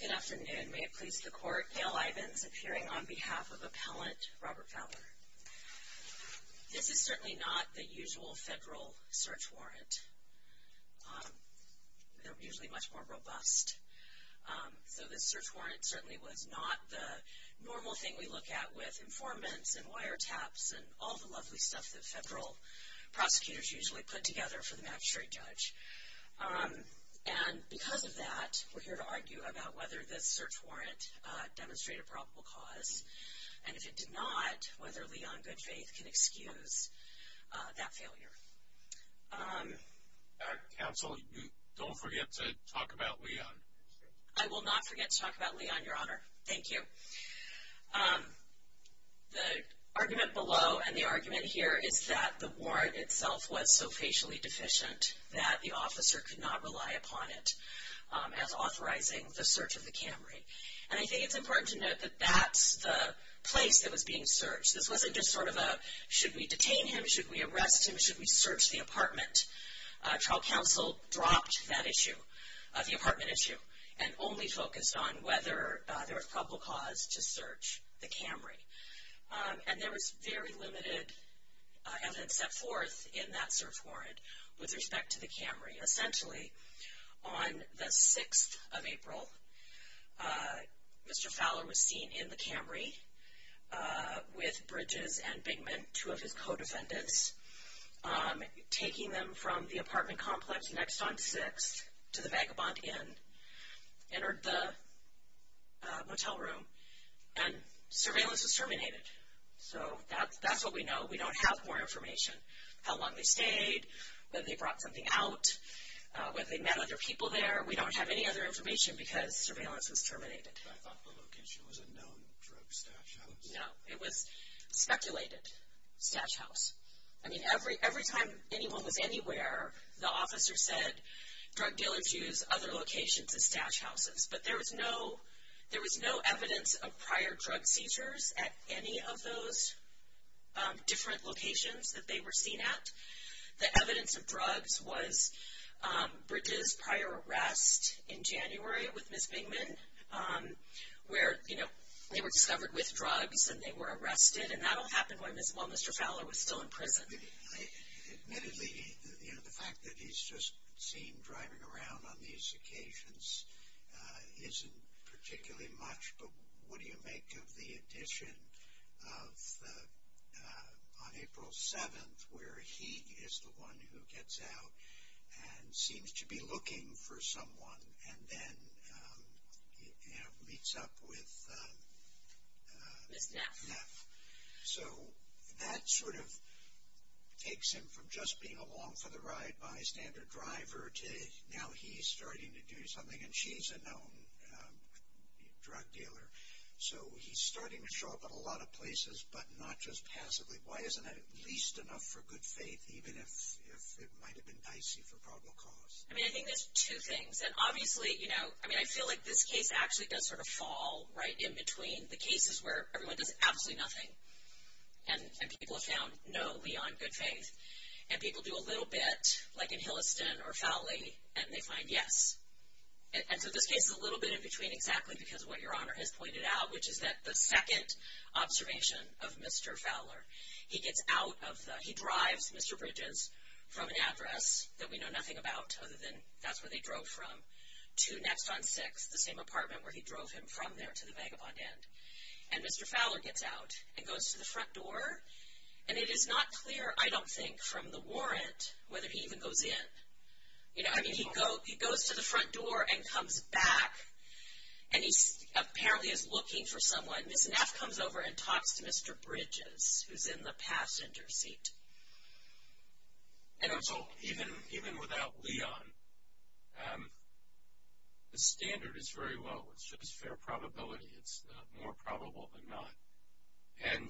Good afternoon. May it please the Court, Gail Ivins appearing on behalf of Appellant Robert Fowler. This is certainly not the usual federal search warrant. They're usually much more robust. So this search warrant certainly was not the normal thing we look at with informants and wiretaps and all the lovely stuff that federal prosecutors usually put together for the magistrate judge. And because of that, we're here to argue about whether this search warrant demonstrated probable cause. And if it did not, whether Leon Goodfaith can excuse that failure. Counsel, don't forget to talk about Leon. I will not forget to talk about Leon, Your Honor. Thank you. The argument below and the argument here is that the warrant itself was so facially deficient that the officer could not rely upon it as authorizing the search of the Camry. And I think it's important to note that that's the place that was being searched. This wasn't just sort of a should we detain him, should we arrest him, should we search the apartment. Trial counsel dropped that issue, the apartment issue, and only focused on whether there was probable cause to search the Camry. And there was very limited evidence set forth in that search warrant with respect to the Camry. Essentially, on the 6th of April, Mr. Fowler was seen in the Camry with Bridges and Bingman, two of his co-defendants, taking them from the apartment complex next on 6th to the Vagabond Inn, entered the motel room, and surveillance was terminated. So that's what we know. We don't have more information. How long they stayed, whether they brought something out, whether they met other people there. We don't have any other information because surveillance was terminated. I thought the location was a known drug stash house. No, it was a speculated stash house. I mean, every time anyone was anywhere, the officer said, drug dealers use other locations as stash houses. But there was no evidence of prior drug seizures at any of those different locations that they were seen at. The evidence of drugs was Bridges' prior arrest in January with Ms. Bingman, where they were discovered with drugs and they were arrested, and that all happened while Mr. Fowler was still in prison. Admittedly, the fact that he's just seen driving around on these occasions isn't particularly much, but what do you make of the addition of on April 7th, where he is the one who gets out and seems to be looking for someone and then meets up with Ms. Neff. So, that sort of takes him from just being along for the ride by a standard driver to now he's starting to do something, and she's a known drug dealer. So, he's starting to show up at a lot of places, but not just passively. Why isn't that at least enough for good faith, even if it might have been dicey for probable cause? I mean, I think there's two things. And obviously, you know, I mean, I feel like this case actually does sort of fall right in between the cases where everyone does absolutely nothing and people have found no, beyond good faith, and people do a little bit, like in Hilliston or Fowley, and they find yes. And so, this case is a little bit in between exactly because of what Your Honor has pointed out, which is that the second observation of Mr. Fowler, he gets out of the, he drives Mr. Bridges from an address that we know nothing about other than that's where they drove from to Next on 6th, the same apartment where he drove him from there to the vagabond end. And Mr. Fowler gets out and goes to the front door, and it is not clear, I don't think, from the warrant, whether he even goes in. You know, I mean, he goes to the front door and comes back, and he apparently is looking for someone. Ms. Neff comes over and talks to Mr. Bridges, who's in the passenger seat. And so, even without Leon, the standard is very low. It's just fair probability. It's more probable than not. And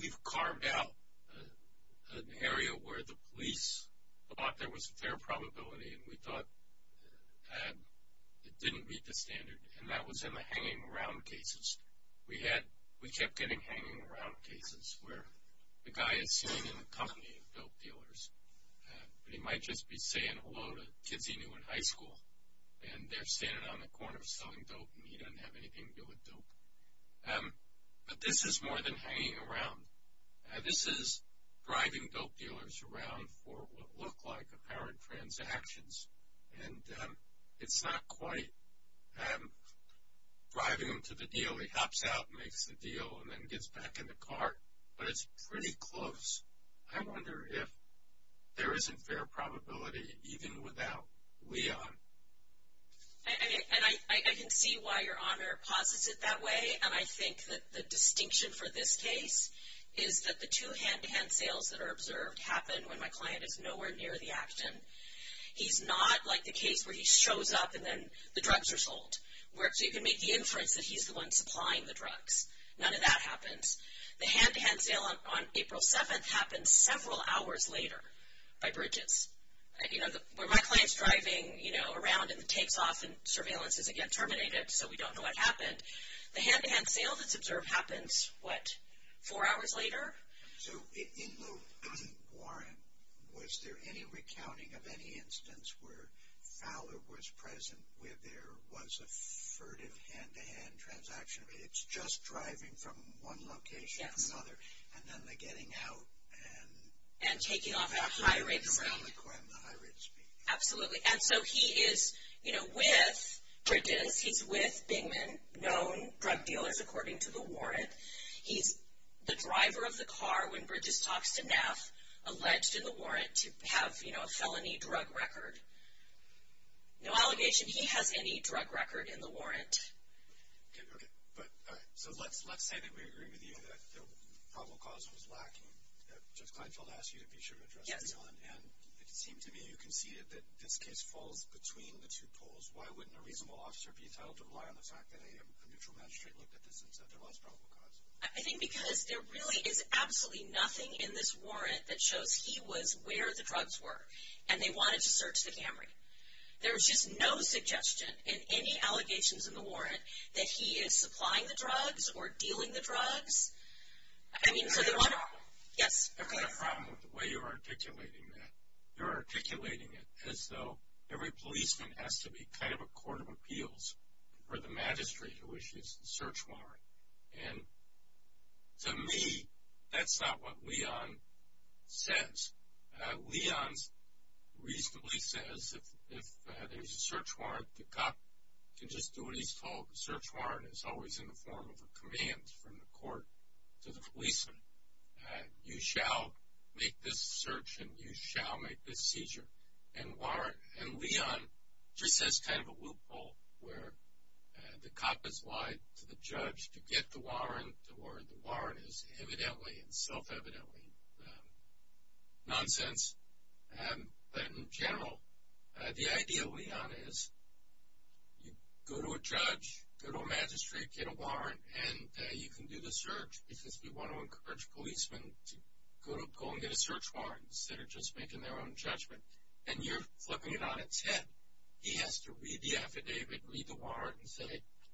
we've carved out an area where the police thought there was a fair probability, and we thought it didn't meet the standard, and that was in the hanging around cases. We had, we kept getting hanging around cases where the guy is sitting in the company of dope dealers, and he might just be saying hello to kids he knew in high school, and they're standing on the corner selling dope, and he doesn't have anything to do with dope. But this is more than hanging around. This is driving dope dealers around for what look like apparent transactions, and it's not quite driving them to the deal. He hops out, makes the deal, and then gets back in the car, but it's pretty close. I wonder if there isn't fair probability even without Leon. And I can see why Your Honor posits it that way, and I think that the distinction for this case is that the two hand-to-hand sales that are observed happen when my client is nowhere near the action. He's not like the case where he shows up and then the drugs are sold, where you can make the inference that he's the one supplying the drugs. None of that happens. The hand-to-hand sale on April 7th happened several hours later by Bridges. You know, where my client's driving, you know, around in the takes-off, and surveillance is again terminated, so we don't know what happened. The hand-to-hand sale that's observed happens, what, four hours later? So in the warrant, was there any recounting of any instance where Fowler was present, where there was a furtive hand-to-hand transaction? It's just driving from one location to another, and then the getting out and… And taking off at a high rate of speed. And the high rate of speed. Absolutely. And so he is, you know, with Bridges. He's with Bingman, known drug dealers according to the warrant. He's the driver of the car when Bridges talks to Neff, alleged in the warrant to have, you know, a felony drug record. No allegation he has any drug record in the warrant. Okay. So let's say that we agree with you that the probable cause was lacking. Judge Kleinfeld asked you to be sure to address it. Yes. And it seemed to me you conceded that this case falls between the two poles. Why wouldn't a reasonable officer be entitled to rely on the fact that a neutral magistrate looked at this and said there was probable cause? I think because there really is absolutely nothing in this warrant that shows he was where the drugs were, and they wanted to search the Camry. There's just no suggestion in any allegations in the warrant that he is supplying the drugs or dealing the drugs. I mean, so they want to. Yes. I've got a problem with the way you're articulating that. You're articulating it as though every policeman has to be kind of a court of appeals for the magistrate who issues the search warrant. And to me, that's not what Leon says. Leon reasonably says if there's a search warrant, the cop can just do what he's told. The search warrant is always in the form of a command from the court to the policeman. You shall make this search and you shall make this seizure. And Leon just has kind of a loophole where the cop has lied to the judge to get the warrant or the warrant is evidently and self-evidently nonsense. But in general, the idea, Leon, is you go to a judge, go to a magistrate, get a warrant, and you can do the search because we want to encourage policemen to go and get a search warrant instead of just making their own judgment. And you're flipping it on its head. He has to read the affidavit, read the warrant, and say,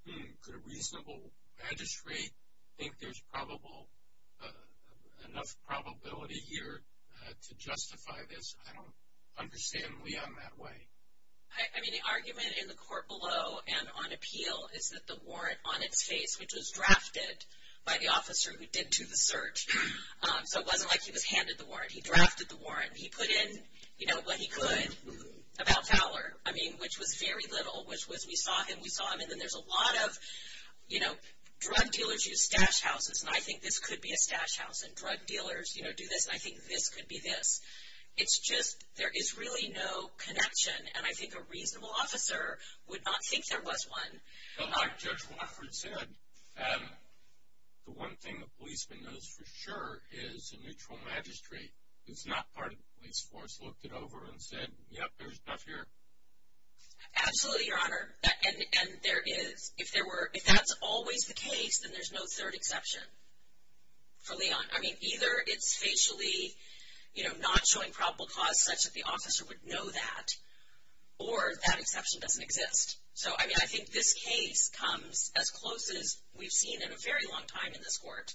hmm, could a reasonable magistrate think there's enough probability here to justify this? I don't understand Leon that way. I mean, the argument in the court below and on appeal is that the warrant on its face, which was drafted by the officer who did do the search, so it wasn't like he was handed the warrant. He drafted the warrant. He put in, you know, what he could about Fowler, I mean, which was very little, which was we saw him, we saw him, and then there's a lot of, you know, drug dealers use stash houses, and I think this could be a stash house, and drug dealers, you know, do this, and I think this could be this. It's just there is really no connection, and I think a reasonable officer would not think there was one. Well, like Judge Wofford said, the one thing a policeman knows for sure is a neutral magistrate. It's not part of the police force looked it over and said, yep, there's enough here. Absolutely, Your Honor, and there is. If that's always the case, then there's no third exception for Leon. I mean, either it's facially, you know, not showing probable cause such that the officer would know that, or that exception doesn't exist. So, I mean, I think this case comes as close as we've seen in a very long time in this court.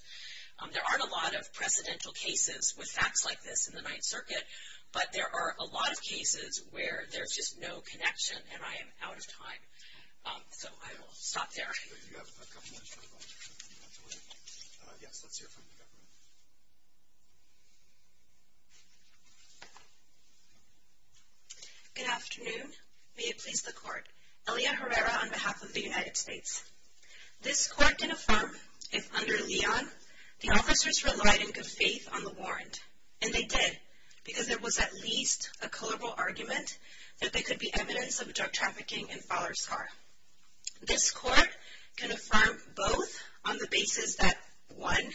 There aren't a lot of precedental cases with facts like this in the Ninth Circuit, but there are a lot of cases where there's just no connection, and I am out of time. So, I will stop there. Do you have a governmental objection? Yes, let's hear from the government. Good afternoon. May it please the Court. Elia Herrera on behalf of the United States. This court can affirm if under Leon the officers relied in good faith on the warrant, and they did because there was at least a culpable argument that there could be evidence of drug trafficking in Fowler's car. This court can affirm both on the basis that one,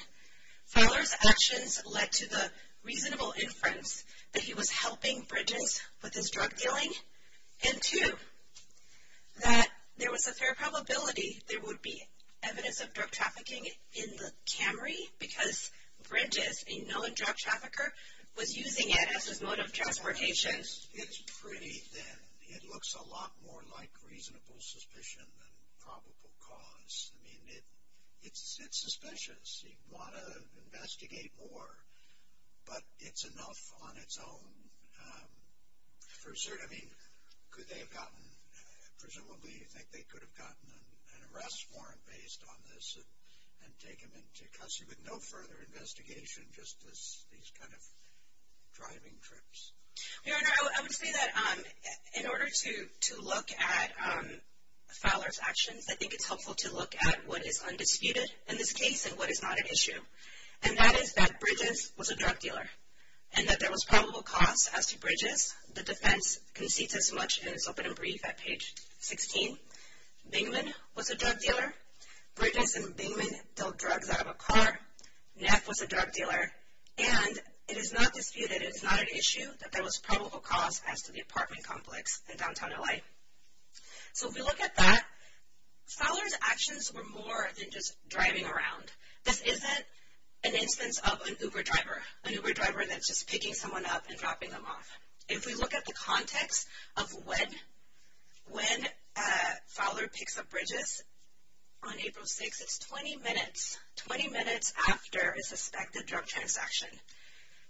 Fowler's actions led to the reasonable inference that he was helping Bridges with his drug dealing, and two, that there was a fair probability there would be evidence of drug trafficking in the Camry because Bridges, a known drug trafficker, was using it as his mode of transportation. It's pretty thin. It looks a lot more like reasonable suspicion than probable cause. I mean, it's suspicious. You'd want to investigate more, but it's enough on its own. I mean, could they have gotten, presumably, you think they could have gotten an arrest warrant based on this and take him into custody with no further investigation just as these kind of driving trips. Your Honor, I would say that in order to look at Fowler's actions, I think it's helpful to look at what is undisputed in this case and what is not an issue, and that is that Bridges was a drug dealer and that there was probable cause as to Bridges. The defense concedes as much, and it's open and brief at page 16. Bingman was a drug dealer. Bridges and Bingman dealt drugs out of a car. Neff was a drug dealer, and it is not disputed. It is not an issue that there was probable cause as to the apartment complex in downtown LA. So if we look at that, Fowler's actions were more than just driving around. This isn't an instance of an Uber driver, an Uber driver that's just picking someone up and dropping them off. If we look at the context of when Fowler picks up Bridges on April 6th, it's 20 minutes, 20 minutes after a suspected drug transaction.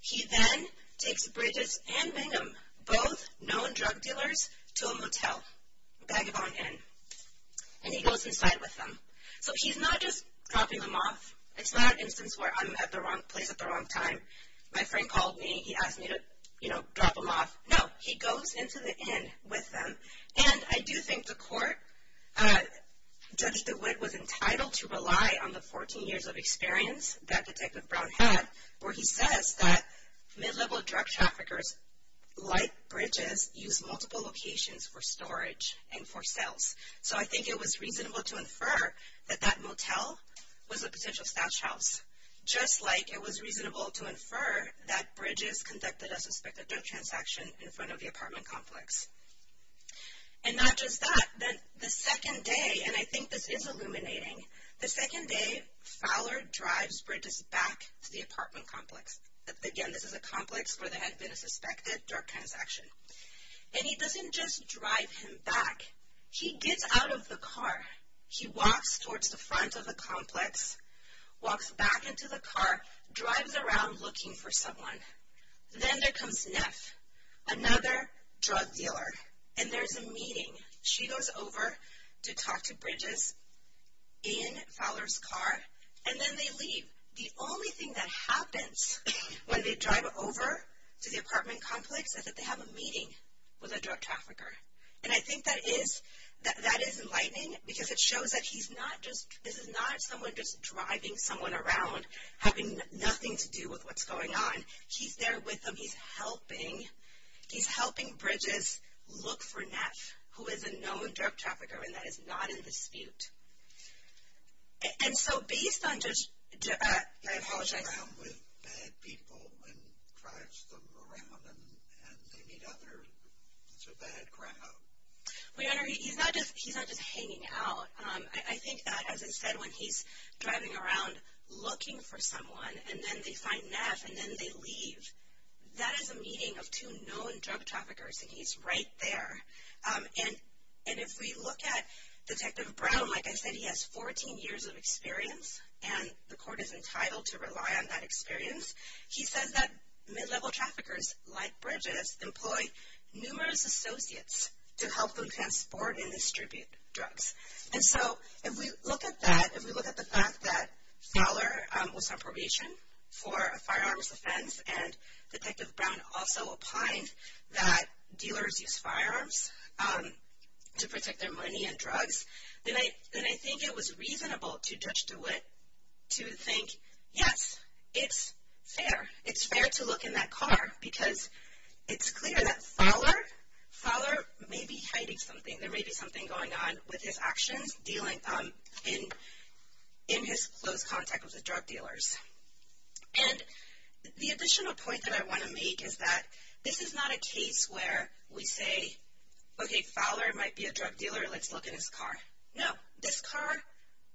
He then takes Bridges and Bingham, both known drug dealers, to a motel, Bagabon Inn, and he goes inside with them. So he's not just dropping them off. It's not an instance where I'm at the wrong place at the wrong time. My friend called me. He asked me to, you know, drop them off. No, he goes into the inn with them, and I do think the court, Judge DeWitt was entitled to rely on the 14 years of experience that Detective Brown had where he says that mid-level drug traffickers like Bridges use multiple locations for storage and for sales. So I think it was reasonable to infer that that motel was a potential stash house, just like it was reasonable to infer that Bridges conducted a suspected drug transaction in front of the apartment complex. And not just that, the second day, and I think this is illuminating, the second day Fowler drives Bridges back to the apartment complex. Again, this is a complex where there had been a suspected drug transaction. And he doesn't just drive him back. He gets out of the car. He walks towards the front of the complex, walks back into the car, drives around looking for someone. Then there comes Neff, another drug dealer, and there's a meeting. She goes over to talk to Bridges in Fowler's car, and then they leave. The only thing that happens when they drive over to the apartment complex is that they have a meeting with a drug trafficker. And I think that is enlightening because it shows that this is not someone just driving someone around, having nothing to do with what's going on. He's there with them. He's helping. He's helping Bridges look for Neff, who is a known drug trafficker, and that is not in dispute. And so based on just – I apologize. He's around with bad people and drives them around, and they meet others. It's a bad crowd. He's not just hanging out. I think that, as I said, when he's driving around looking for someone, and then they find Neff, and then they leave, that is a meeting of two known drug traffickers, and he's right there. And if we look at Detective Brown, like I said, he has 14 years of experience, and the court is entitled to rely on that experience. He says that mid-level traffickers like Bridges employ numerous associates to help them transport and distribute drugs. And so if we look at that, if we look at the fact that Fowler was on probation for a firearms offense and Detective Brown also opined that dealers use firearms to protect their money and drugs, then I think it was reasonable to judge DeWitt to think, yes, it's fair. It's fair to look in that car because it's clear that Fowler may be hiding something. There may be something going on with his actions in his close contact with the drug dealers. And the additional point that I want to make is that this is not a case where we say, okay, Fowler might be a drug dealer. Let's look in his car. No. This car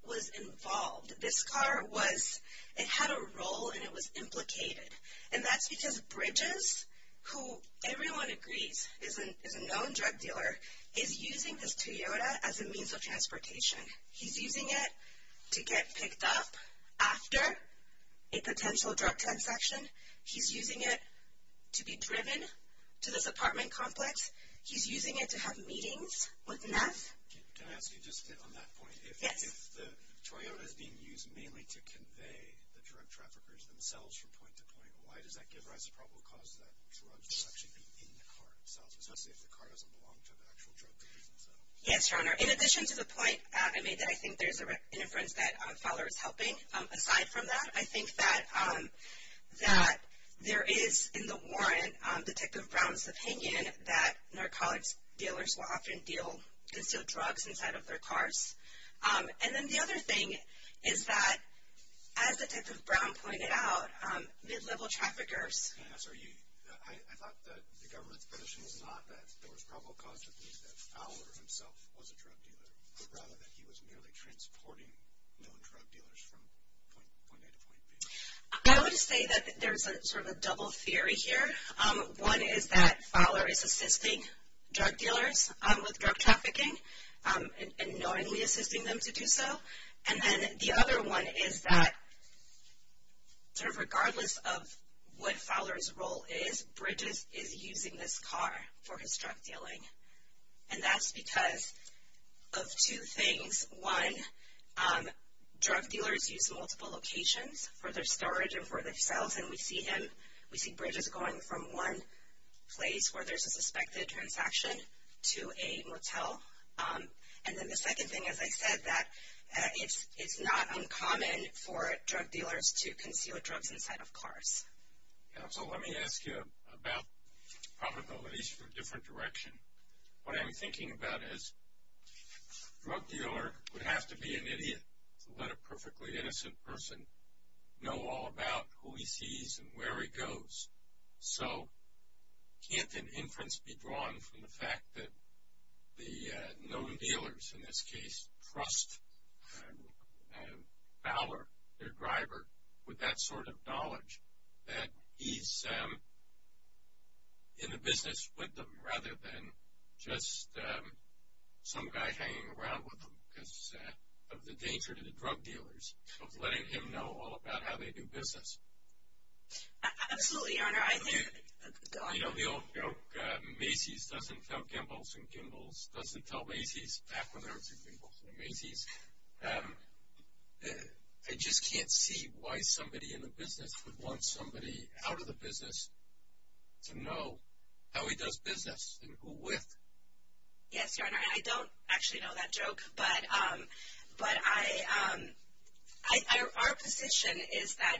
was involved. This car was – it had a role, and it was implicated. And that's because Bridges, who everyone agrees is a known drug dealer, is using this Toyota as a means of transportation. He's using it to get picked up after a potential drug transaction. He's using it to be driven to this apartment complex. Can I ask you just on that point? Yes. If the Toyota is being used mainly to convey the drug traffickers themselves from point to point, why does that give rise to the problem of causing that drug to actually be in the car itself, especially if the car doesn't belong to the actual drug dealers themselves? Yes, Your Honor. In addition to the point I made that I think there's an inference that Fowler is helping, aside from that, I think that there is in the warrant, Detective Brown's opinion, that narcotics dealers will often instill drugs inside of their cars. And then the other thing is that, as Detective Brown pointed out, mid-level traffickers. Yes, I thought that the government's position was not that there was probable cause to believe that Fowler himself was a drug dealer, but rather that he was merely transporting known drug dealers from point A to point B. I would say that there's sort of a double theory here. One is that Fowler is assisting drug dealers with drug trafficking and knowingly assisting them to do so. And then the other one is that sort of regardless of what Fowler's role is, Bridges is using this car for his drug dealing. And that's because of two things. One, drug dealers use multiple locations for their storage and for their sales, and we see Bridges going from one place where there's a suspected transaction to a motel. And then the second thing, as I said, that it's not uncommon for drug dealers to conceal drugs inside of cars. So let me ask you about probabilities for different direction. What I'm thinking about is drug dealer would have to be an idiot to let a perfectly innocent person know all about who he sees and where he goes. So can't an inference be drawn from the fact that the known dealers, in this case, trust Fowler, their driver, with that sort of knowledge that he's in the business with them of letting him know all about how they do business? Absolutely, Your Honor. You know the old joke, Macy's doesn't tell Gimbles and Gimbles doesn't tell Macy's, back when there were two Gimbles and Macy's. I just can't see why somebody in the business would want somebody out of the business to know how he does business and who with. Yes, Your Honor, I don't actually know that joke, but our position is that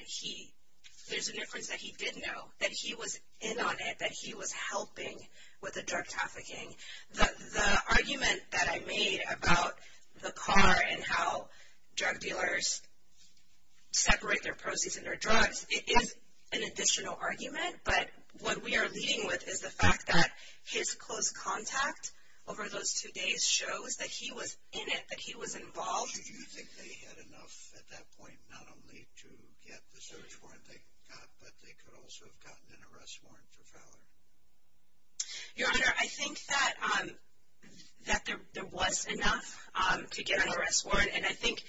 there's a difference that he did know, that he was in on it, that he was helping with the drug trafficking. The argument that I made about the car and how drug dealers separate their proceeds and their drugs is an additional argument, but what we are leading with is the fact that his close contact over those two days shows that he was in it, that he was involved. Do you think they had enough at that point not only to get the search warrant they got, but they could also have gotten an arrest warrant for Fowler? Your Honor, I think that there was enough to get an arrest warrant, and I think,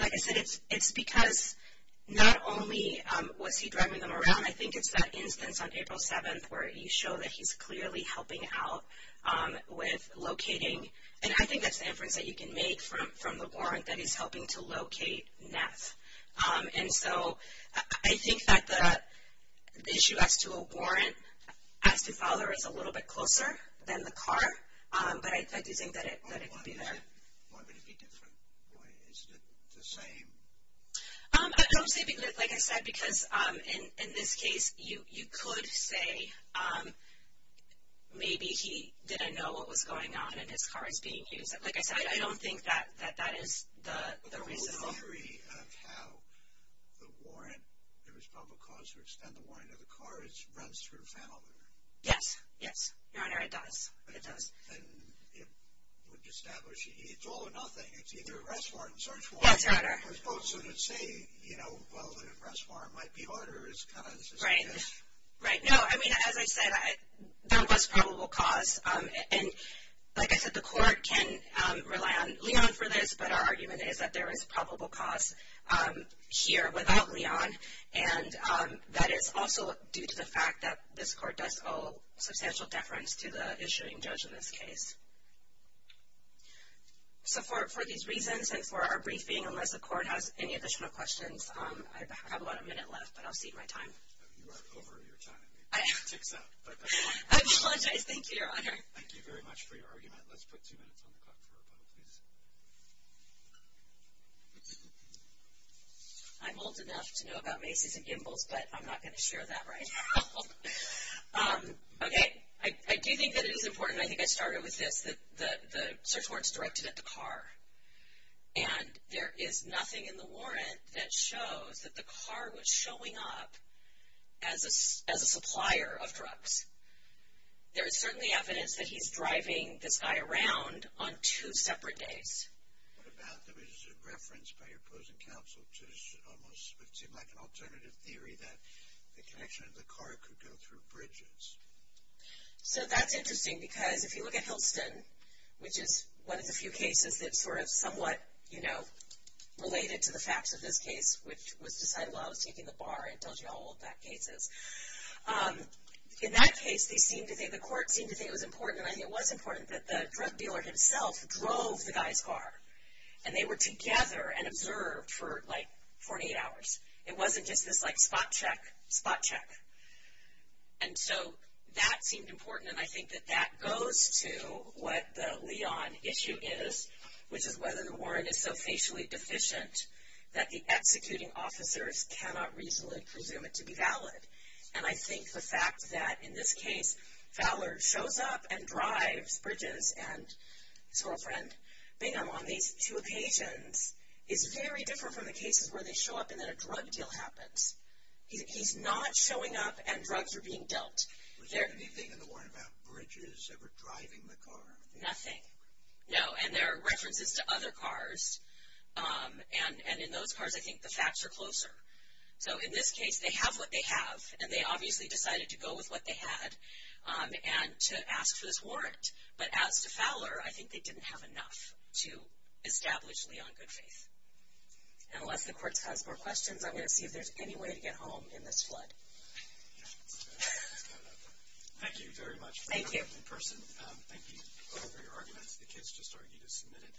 like I said, it's because not only was he driving them around, I think it's that instance on April 7th where you show that he's clearly helping out with locating, and I think that's the inference that you can make from the warrant that he's helping to locate Ness. And so I think that the issue as to a warrant as to Fowler is a little bit closer than the car, but I do think that it would be there. Why would it be different? Why isn't it the same? I don't see, like I said, because in this case, you could say maybe he didn't know what was going on and his car is being used. Like I said, I don't think that that is the reason. But the whole theory of how the warrant, there was probable cause to extend the warrant of the car, it runs through Fowler. Yes, yes, Your Honor, it does, it does. And it would establish, it's all or nothing, it's either arrest warrant, search warrant. Yes, Your Honor. Because Boatswain would say, you know, well, an arrest warrant might be harder, it's kind of this case. Right, right. No, I mean, as I said, there was probable cause. And like I said, the court can rely on Leon for this, but our argument is that there is probable cause here without Leon, and that is also due to the fact that this court does owe substantial deference to the issuing judge in this case. So for these reasons and for our briefing, unless the court has any additional questions, I have about a minute left, but I'll cede my time. You are over your time. I apologize. Thank you, Your Honor. Thank you very much for your argument. Let's put two minutes on the clock for a vote, please. I'm old enough to know about maces and gimbals, but I'm not going to share that right now. Okay. I do think that it is important. And I think I started with this, that the search warrant is directed at the car. And there is nothing in the warrant that shows that the car was showing up as a supplier of drugs. There is certainly evidence that he's driving this guy around on two separate days. What about the reference by your opposing counsel to almost what seemed like an alternative theory, that the connection of the car could go through bridges? So that's interesting because if you look at Hilton, which is one of the few cases that's sort of somewhat, you know, related to the facts of this case, which was decided while I was taking the bar and told you how old that case is. In that case, the court seemed to think it was important, and I think it was important, that the drug dealer himself drove the guy's car. And they were together and observed for, like, 48 hours. It wasn't just this, like, spot check, spot check. And so that seemed important, and I think that that goes to what the Leon issue is, which is whether the warrant is so facially deficient that the executing officers cannot reasonably presume it to be valid. And I think the fact that, in this case, Fowler shows up and drives Bridges and his girlfriend Bingham on these two occasions is very different from the cases where they show up and then a drug deal happens. He's not showing up and drugs are being dealt. Was there anything in the warrant about Bridges ever driving the car? Nothing. No, and there are references to other cars, and in those cars, I think the facts are closer. So in this case, they have what they have, and they obviously decided to go with what they had and to ask for this warrant. But as to Fowler, I think they didn't have enough to establish Leon good faith. And unless the court has more questions, I'm going to see if there's any way to get home in this flood. Thank you very much. Thank you. In person, thank you both for your arguments. The kids just argued as submitted.